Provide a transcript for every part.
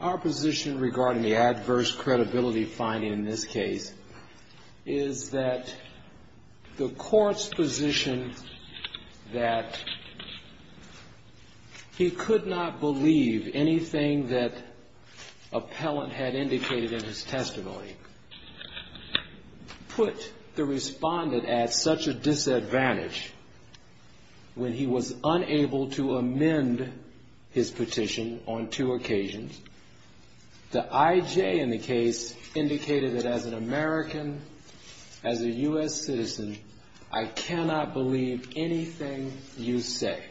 Our position regarding the adverse credibility finding in this case is that the court's position that he could not believe anything that the respondent had such a disadvantage when he was unable to amend his petition on two occasions. The I.J. in the case indicated that as an American, as a U.S. citizen, I cannot believe anything you say,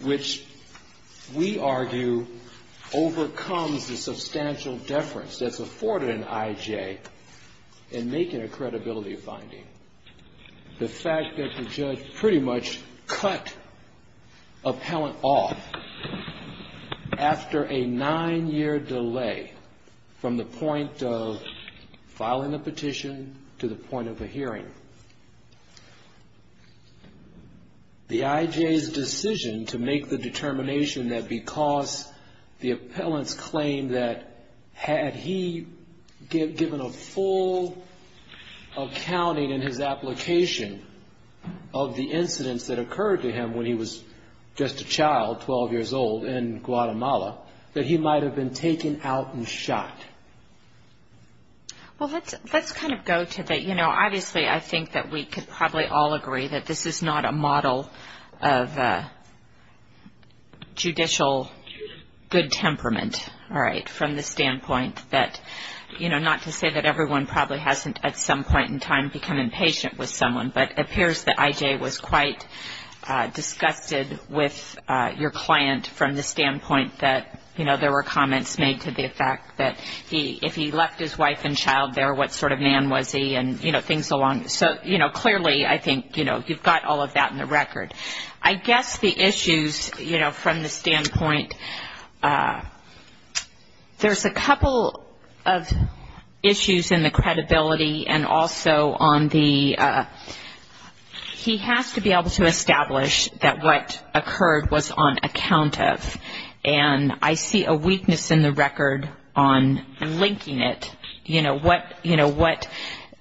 which we argue overcomes the substantial deference that's afforded in I.J. in making a credibility finding. The fact that the judge pretty much cut appellant off after a nine-year delay from the point of filing a petition to the point of a hearing. The I.J.'s decision to make the determination that because the application of the incidents that occurred to him when he was just a child, 12 years old, in Guatemala, that he might have been taken out and shot. Well, let's kind of go to that. You know, obviously, I think that we could probably all agree that this is not a model of judicial good temperament, right, from the standpoint that, you know, not to say that everyone probably hasn't at some point in time become impatient with someone, but it appears that I.J. was quite disgusted with your client from the standpoint that, you know, there were comments made to the effect that he, if he left his wife and child there, what sort of man was he, and, you know, things along. So, you know, clearly, I think, you know, you've got all of that in the record. I guess the issues, you know, from the standpoint that occurred was on account of, and I see a weakness in the record on linking it, you know, what, you know, what,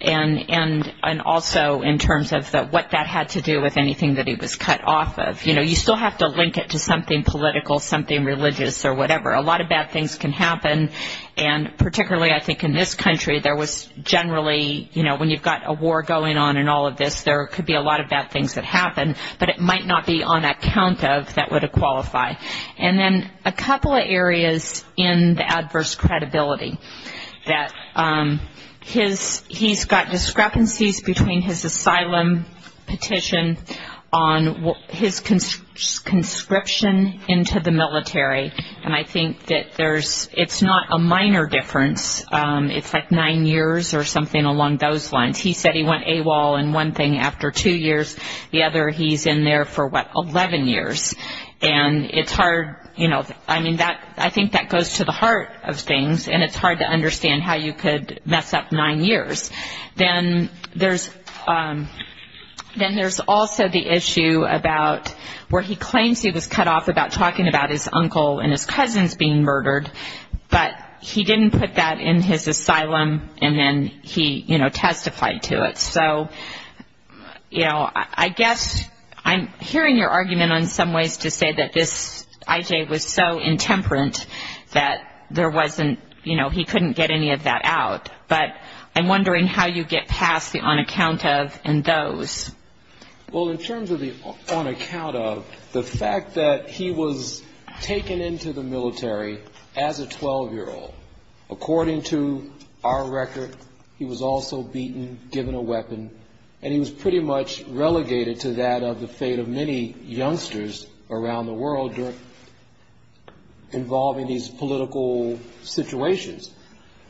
and also in terms of what that had to do with anything that he was cut off of. You know, you still have to link it to something political, something religious or whatever. A lot of bad things can happen, and particularly, I think, in this country, there was generally, you know, when you've got a war going on and all of this, there could be a lot of bad things on account of that would qualify. And then a couple of areas in the adverse credibility that his, he's got discrepancies between his asylum petition on his conscription into the military, and I think that there's, it's not a minor difference. It's like nine years or something along those lines. He said he went AWOL and one thing after two years, the other he's in there for, what, 11 years. And it's hard, you know, I mean, that, I think that goes to the heart of things, and it's hard to understand how you could mess up nine years. Then there's, then there's also the issue about where he claims he was cut off about talking about his uncle and his cousins being murdered, but he didn't put that in his asylum, and then he, you know, testified to it. So, you know, I guess I'm hearing your argument on some ways to say that this I.J. was so intemperate that there wasn't, you know, he couldn't get any of that out. But I'm wondering how you get past the on account of and those. Well, in terms of the on account of, the fact that he was taken into the military as a 12-year-old, according to our record, he was also beaten, given a weapon, and he was pretty much relegated to that of the fate of many youngsters around the world during, involving these political situations.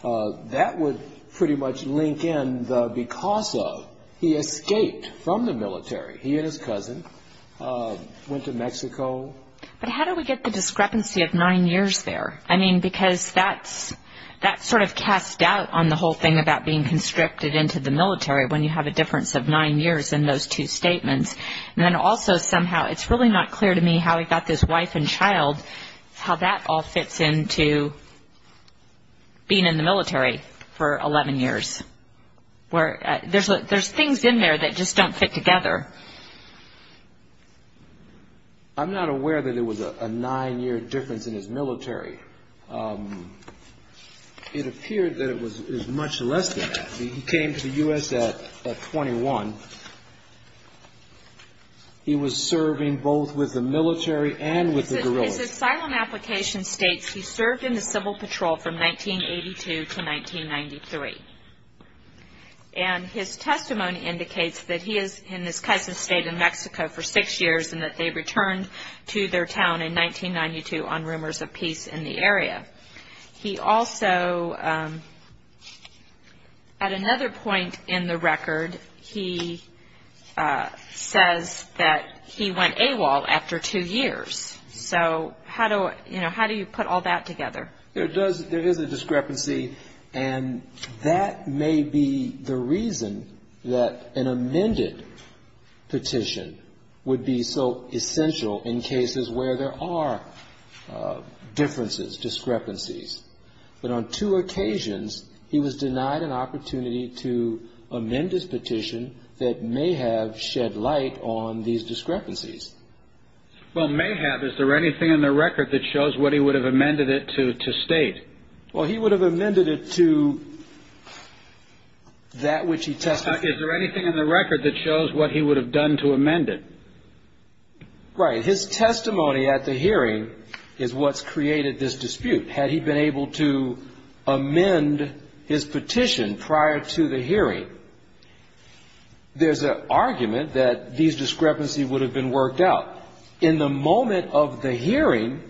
That would pretty much link in the because of, he escaped from the military. He and his cousin went to Mexico. But how do we get the discrepancy of nine years there? I mean, because that's, that sort of casts doubt on the whole thing about being constricted into the military when you have a difference of nine years in those two statements. And then also, somehow, it's really not clear to me how he got this wife and child, how that all fits into being in the military for 11 years, where there's things in there that just don't fit together. I'm not aware that it was a nine-year difference in his military. It appeared that it was much less than that. He came to the U.S. at 21. He was serving both with the military and with the guerrillas. His asylum application states he served in the Civil Patrol from 1982 to 1993. And his testimony indicates that he is in his cousin's state in Mexico for six years and that they returned to their town in 1992 on rumors of peace in the area. He also, at another point in the record, he says that he went AWOL after two years. So how do you put all that together? There is a discrepancy, and that may be the reason that an amended petition would be so essential in cases where there are differences, discrepancies. But on two occasions, he was denied an opportunity to amend his petition that may have shed light on these discrepancies. Well, may have. Is there anything in the record that shows what he would have amended it to state? Well, he would have amended it to that which he testified. Is there anything in the record that shows what he would have done to amend it? Right. His testimony at the hearing is what's created this dispute. Had he been able to amend his petition prior to the hearing, there's an argument that these discrepancies would have been worked out. In the moment of the hearing,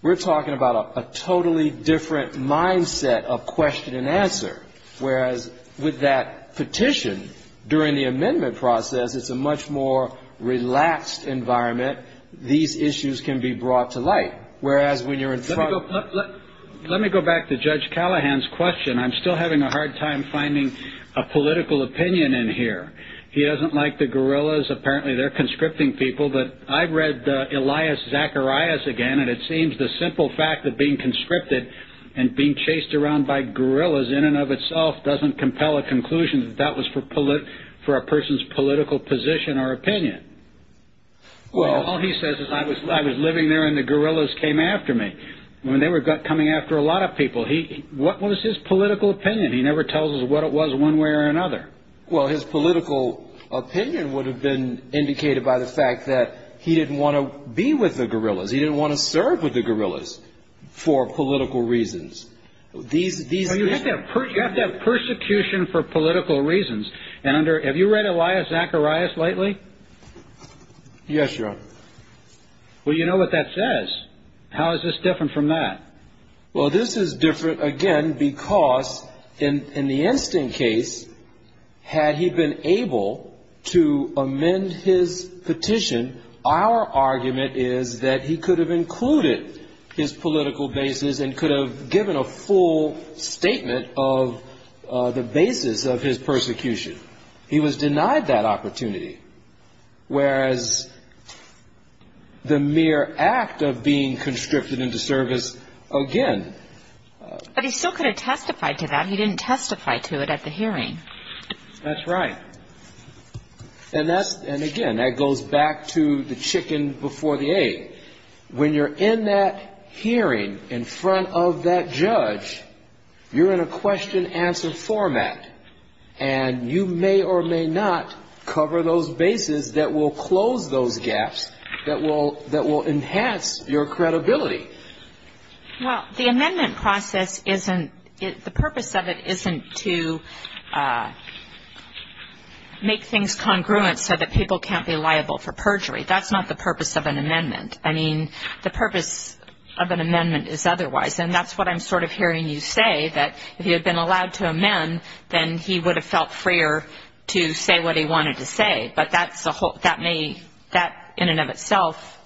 we're talking about a totally different mindset of question and answer, whereas with that petition, during the amendment process, it's a much more relaxed environment. These issues can be brought to light, whereas when you're in front of Let me go back to Judge Callahan's question. I'm still having a hard time finding a political opinion in here. He doesn't like the guerrillas. Apparently they're conscripting people, but I've read Elias Zacharias again, and it seems the simple fact of being conscripted and being chased around by guerrillas in and of itself doesn't compel a conclusion that that was for a person's political position or opinion. All he says is, I was living there and the guerrillas came after me. They were coming after a lot of people. What was his political opinion? He never tells us what it was one way or another. Well, his political opinion would have been indicated by the fact that he didn't want to be with the guerrillas. He didn't want to serve with the guerrillas for political reasons. You have to have persecution for political reasons. Have you read Elias Zacharias lately? Yes, Your Honor. Well, you know what that says. How is this different from that? Well, this is different, again, because in the instant case, had he been able to amend his petition, our argument is that he could have included his political basis and could have given a full statement of the basis of his persecution. He was denied that opportunity, whereas the mere act of being conscripted into service, again. But he still could have testified to that. He didn't testify to it at the hearing. That's right. And again, that goes back to the chicken before the egg. When you're in that hearing in front of that judge, you're in a question-answer format, and you may or may not cover those bases that will close those gaps, that will enhance your credibility. Well, the amendment process isn't the purpose of it isn't to make things congruent so that people can't be liable for perjury. That's not the purpose of an amendment. I mean, the purpose of an amendment is otherwise, and that's what I'm sort of hearing you say, that if he had been allowed to amend, then he would have felt freer to say what he wanted to say. But that in and of itself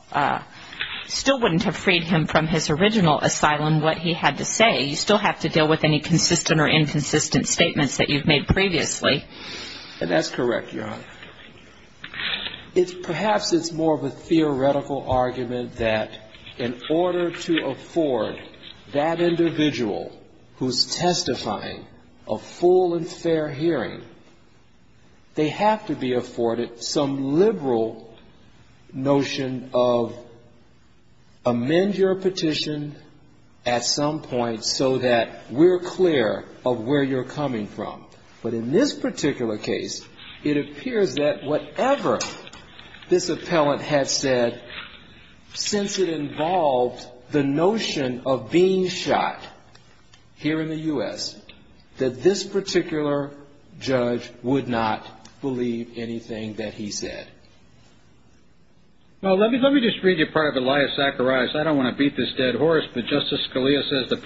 still wouldn't have freed him from his original asylum, what he had to say. You still have to deal with any consistent or inconsistent statements that you've made previously. And that's correct, Your Honor. Perhaps it's more of a theoretical argument that in order to afford that individual who's testifying a full and fair hearing, they have to be afforded some liberal notion of amend your petition at some point so that we're clear of where you're coming from. But in this particular case, it appears that whatever this appellant had said, since it involved the notion of being shot here in the U.S., that this particular judge would not believe anything that he said. Well, let me just read you part of Elias Zacharias. I don't want to beat this dead horse, but Justice Scalia says,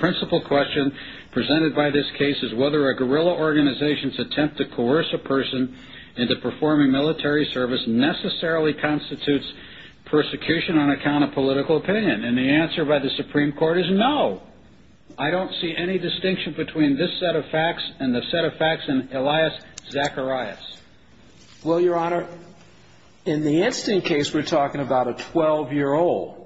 presented by this case is whether a guerrilla organization's attempt to coerce a person into performing military service necessarily constitutes persecution on account of political opinion. And the answer by the Supreme Court is no. I don't see any distinction between this set of facts and the set of facts in Elias Zacharias. Well, Your Honor, in the instant case, we're talking about a 12-year-old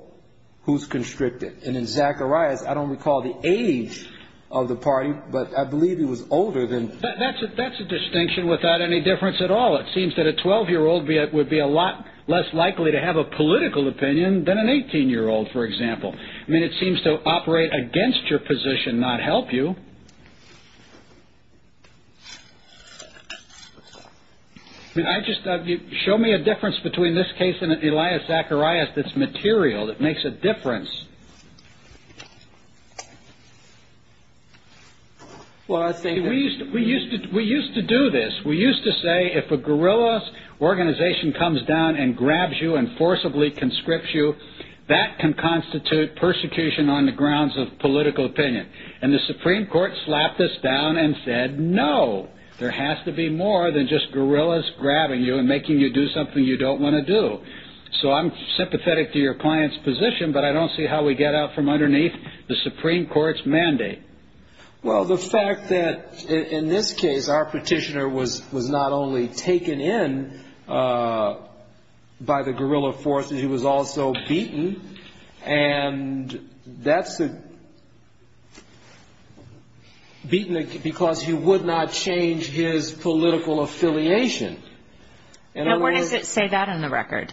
who's constricted. And in Zacharias, I don't recall the age of the party, but I believe he was older than. That's a distinction without any difference at all. It seems that a 12-year-old would be a lot less likely to have a political opinion than an 18-year-old, for example. I mean, it seems to operate against your position, not help you. Show me a difference between this case and Elias Zacharias that's material, that makes a difference. We used to do this. We used to say if a guerrilla organization comes down and grabs you and forcibly conscripts you, that can constitute persecution on the grounds of political opinion. And the Supreme Court slapped us down and said, no, there has to be more than just guerrillas grabbing you and making you do something you don't want to do. So I'm sympathetic to your client's position, but I don't see how we get out from underneath the Supreme Court's mandate. Well, the fact that in this case, our petitioner was not only taken in by the guerrilla forces, he was also beaten, and that's a beaten because he would not change his political affiliation. Now, where does it say that on the record?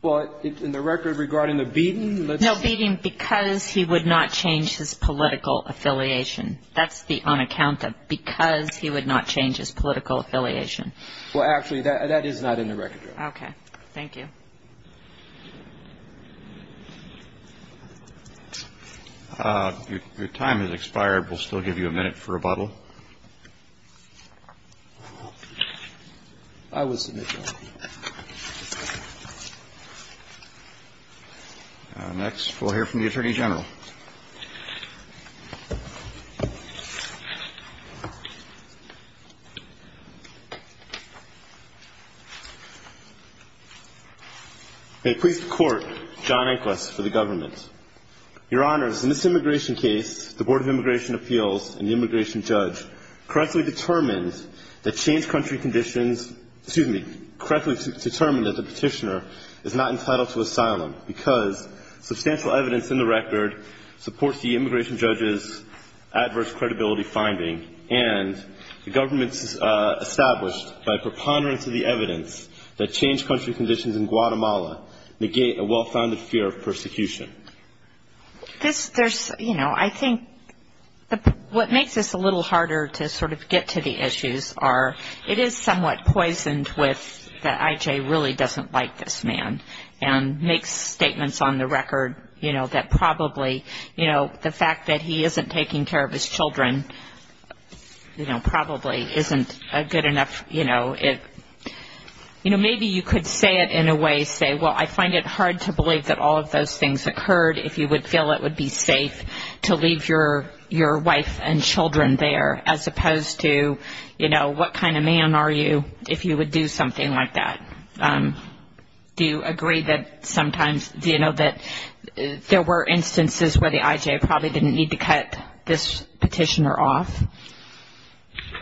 Well, in the record regarding the beaten. No, beating because he would not change his political affiliation. That's the on account of because he would not change his political affiliation. Well, actually, that is not in the record. Okay. Thank you. Your time has expired. We'll still give you a minute for rebuttal. I will submit that. Next, we'll hear from the Attorney General. May it please the Court, John Enquist for the government. Your Honors, in this immigration case, the Board of Immigration Appeals and the immigration judge correctly determined that changed country conditions, excuse me, correctly determined that the petitioner is not entitled to asylum because substantial evidence in the record supports the immigration judge's adverse credibility finding and the government's established by preponderance of the evidence that changed country conditions in Guatemala negate a well-founded fear of persecution. There's, you know, I think what makes this a little harder to sort of get to the issues are it is somewhat poisoned with that I.J. really doesn't like this man and makes statements on the record, you know, that probably, you know, the fact that he isn't taking care of his children, you know, probably isn't good enough, you know. You know, maybe you could say it in a way, say, well, I find it hard to believe that all of those things occurred, if you would feel it would be safe to leave your wife and children there, as opposed to, you know, what kind of man are you if you would do something like that. Do you agree that sometimes, you know, that there were instances where the I.J. probably didn't need to cut this petitioner off?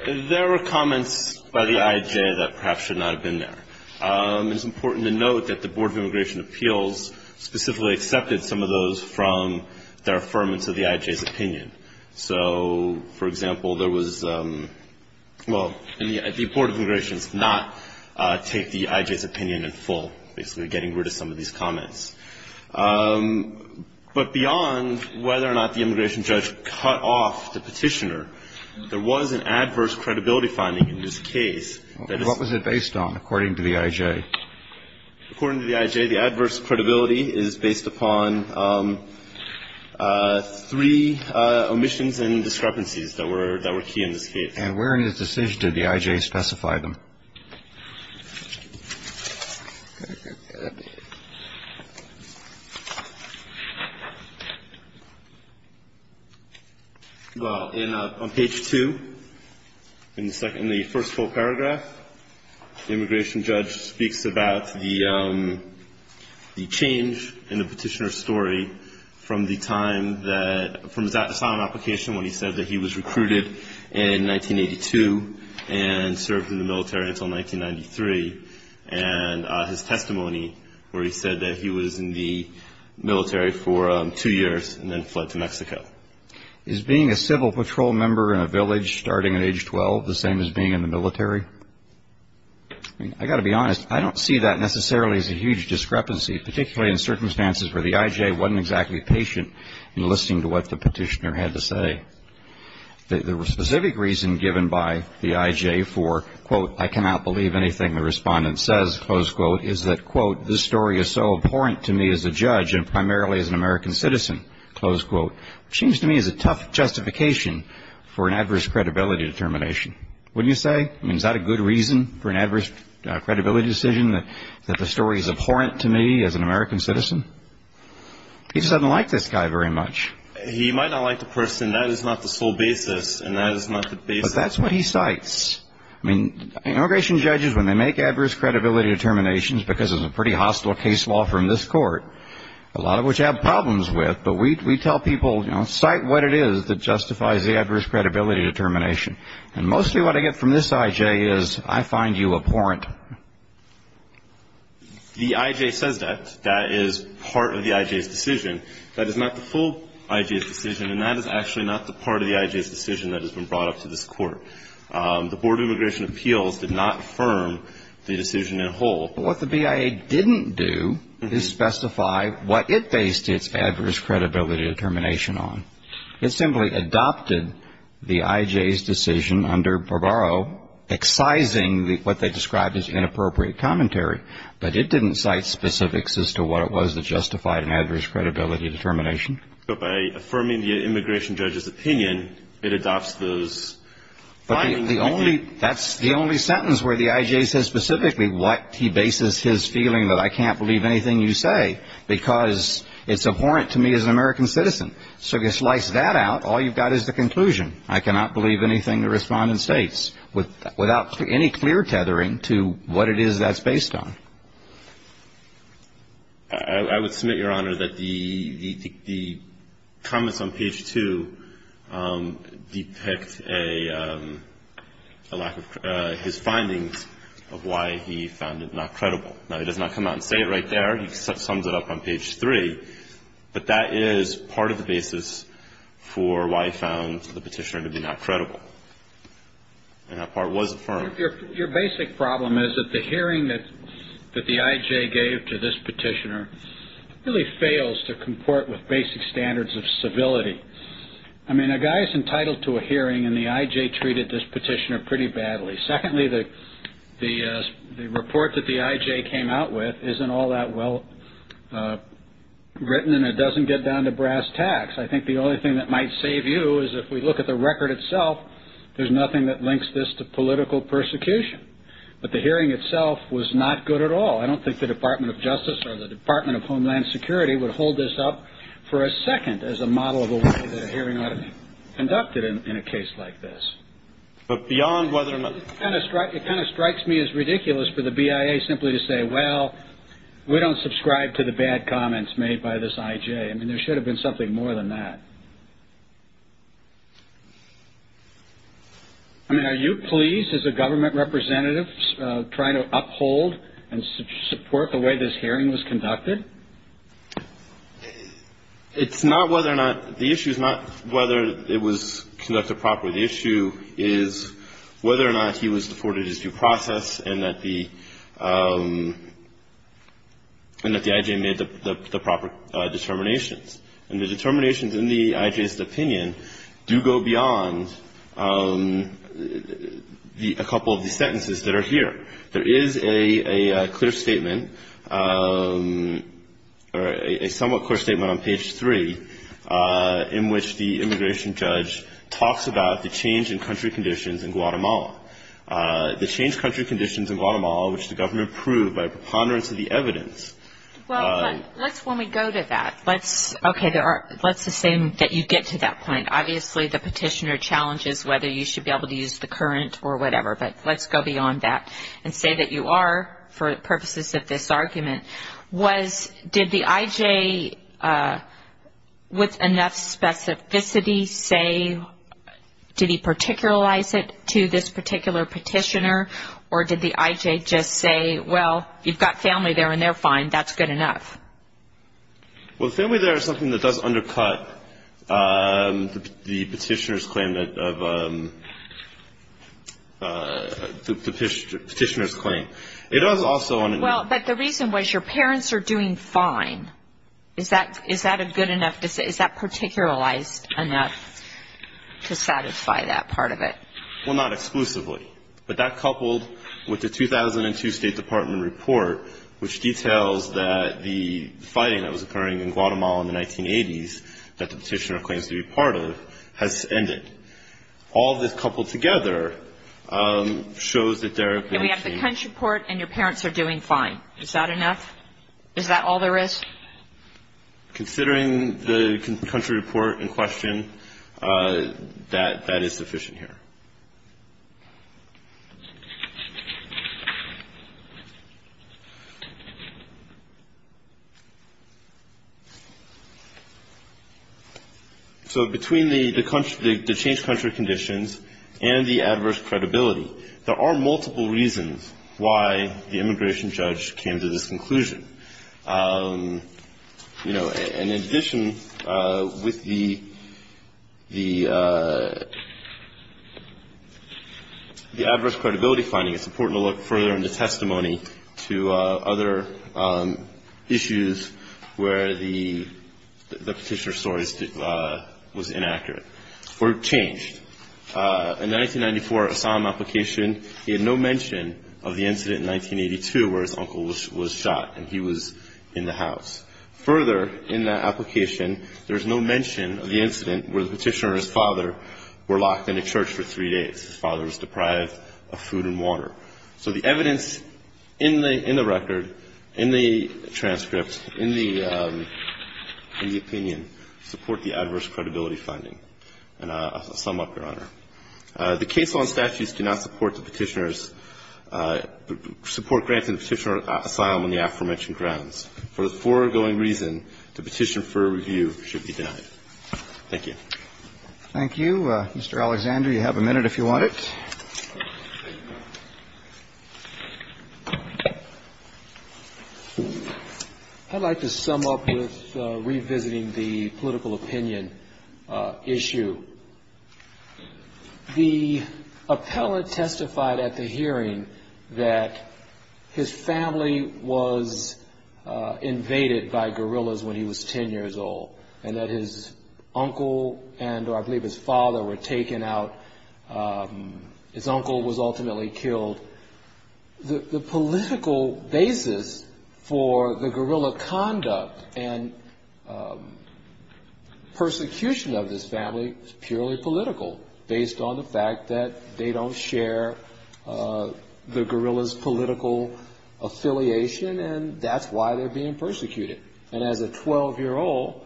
There were comments by the I.J. that perhaps should not have been there. It's important to note that the Board of Immigration Appeals specifically accepted some of those from their affirmance of the I.J.'s opinion. So, for example, there was, well, the Board of Immigration did not take the I.J.'s opinion in full, basically getting rid of some of these comments. But beyond whether or not the immigration judge cut off the petitioner, there was an adverse credibility finding in this case. What was it based on, according to the I.J.? According to the I.J., the adverse credibility is based upon three omissions and discrepancies that were key in this case. And where in his decision did the I.J. specify them? Well, on page two, in the first full paragraph, the immigration judge speaks about the change in the petitioner's story from the time that, from his asylum application when he said that he was recruited in 1982 and served in the military until 1993, and his testimony where he said that he was in the military for two years and then fled to Mexico. Is being a civil patrol member in a village starting at age 12 the same as being in the military? I mean, I've got to be honest, I don't see that necessarily as a huge discrepancy, particularly in circumstances where the I.J. wasn't exactly patient in listening to what the petitioner had to say. The specific reason given by the I.J. for, quote, I cannot believe anything the respondent says, close quote, is that, quote, this story is so abhorrent to me as a judge and primarily as an American citizen, close quote, which seems to me is a tough justification for an adverse credibility determination. Wouldn't you say? I mean, is that a good reason for an adverse credibility decision, that the story is abhorrent to me as an American citizen? He just doesn't like this guy very much. He might not like the person. That is not the sole basis, and that is not the basis. But that's what he cites. I mean, immigration judges, when they make adverse credibility determinations, because it's a pretty hostile case law from this court, a lot of which I have problems with, but we tell people, you know, cite what it is that justifies the adverse credibility determination. And mostly what I get from this I.J. is I find you abhorrent. The I.J. says that. That is part of the I.J.'s decision. That is not the full I.J.'s decision, and that is actually not the part of the I.J.'s decision that has been brought up to this court. The Board of Immigration Appeals did not affirm the decision in whole. What the BIA didn't do is specify what it based its adverse credibility determination on. It simply adopted the I.J.'s decision under Barbaro, excising what they described as inappropriate commentary. But it didn't cite specifics as to what it was that justified an adverse credibility determination. But by affirming the immigration judge's opinion, it adopts those findings. But the only ‑‑ that's the only sentence where the I.J. says specifically what he bases his feeling, that I can't believe anything you say because it's abhorrent to me as an American citizen. So to slice that out, all you've got is the conclusion. I cannot believe anything the Respondent states without any clear tethering to what it is that's based on. I would submit, Your Honor, that the comments on page 2 depict a lack of ‑‑ his findings of why he found it not credible. Now, he does not come out and say it right there. He sums it up on page 3. But that is part of the basis for why he found the petitioner to be not credible, and that part was affirmed. Your basic problem is that the hearing that the I.J. gave to this petitioner really fails to comport with basic standards of civility. I mean, a guy is entitled to a hearing, and the I.J. treated this petitioner pretty badly. Secondly, the report that the I.J. came out with isn't all that well written, and it doesn't get down to brass tacks. I think the only thing that might save you is if we look at the record itself, there's nothing that links this to political persecution. But the hearing itself was not good at all. I don't think the Department of Justice or the Department of Homeland Security would hold this up for a second as a model of the way that a hearing ought to be conducted in a case like this. It kind of strikes me as ridiculous for the BIA simply to say, well, we don't subscribe to the bad comments made by this I.J. I mean, there should have been something more than that. I mean, are you pleased, as a government representative, trying to uphold and support the way this hearing was conducted? The issue is not whether it was conducted properly. The issue is whether or not he was afforded his due process and that the I.J. made the proper determinations. And the determinations in the I.J.'s opinion do go beyond a couple of the sentences that are here. There is a clear statement or a somewhat clear statement on page three in which the immigration judge talks about the change in country conditions in Guatemala. The changed country conditions in Guatemala, which the government proved by preponderance of the evidence. Well, but let's, when we go to that, let's, okay, there are, let's assume that you get to that point. Obviously, the petitioner challenges whether you should be able to use the current or whatever. But let's go beyond that and say that you are for purposes of this argument. Was, did the I.J. with enough specificity say, did he particularize it to this particular petitioner? Or did the I.J. just say, well, you've got family there and they're fine. That's good enough. Well, family there is something that does undercut the petitioner's claim that, of the petitioner's claim. It does also undercut. Well, but the reason was your parents are doing fine. Is that, is that a good enough, is that particularized enough to satisfy that part of it? Well, not exclusively. But that coupled with the 2002 State Department report, which details that the fighting that was occurring in Guatemala in the 1980s, that the petitioner claims to be part of, has ended. All of this coupled together shows that there are. And we have the country report and your parents are doing fine. Is that enough? Is that all there is? Considering the country report in question, that, that is sufficient here. So between the country, the changed country conditions and the adverse credibility, there are multiple reasons why the immigration judge came to this conclusion. You know, and in addition, with the, the adverse credibility finding, it's important to look further in the testimony to other issues where the petitioner's story was inaccurate or changed. In the 1994 Assam application, he had no mention of the incident in 1982 where his uncle was, was shot and he was in the house. Further, in that application, there's no mention of the incident where the petitioner and his father were locked in a church for three days. His father was deprived of food and water. So the evidence in the, in the record, in the transcript, in the, in the opinion, support the adverse credibility finding. And I'll sum up, Your Honor. The case law and statutes do not support the petitioner's, support grants in the petitioner asylum on the aforementioned grounds. For the foregoing reason, the petition for review should be denied. Thank you. Thank you. Mr. Alexander, you have a minute if you want it. I'd like to sum up with revisiting the political opinion issue. The appellant testified at the hearing that his family was invaded by guerrillas when he was 10 years old, and that his uncle and, or I believe his father were taken out. His uncle was ultimately killed. The political basis for the guerrilla conduct and persecution of this family is purely political, based on the fact that they don't share the guerrilla's political affiliation, and that's why they're being persecuted. And as a 12-year-old,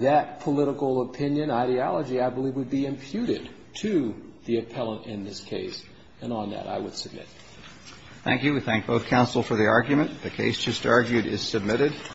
that political opinion, ideology, I believe, would be imputed to the appellant in this case. And on that, I would submit. Thank you. We thank both counsel for the argument. The case just argued is submitted.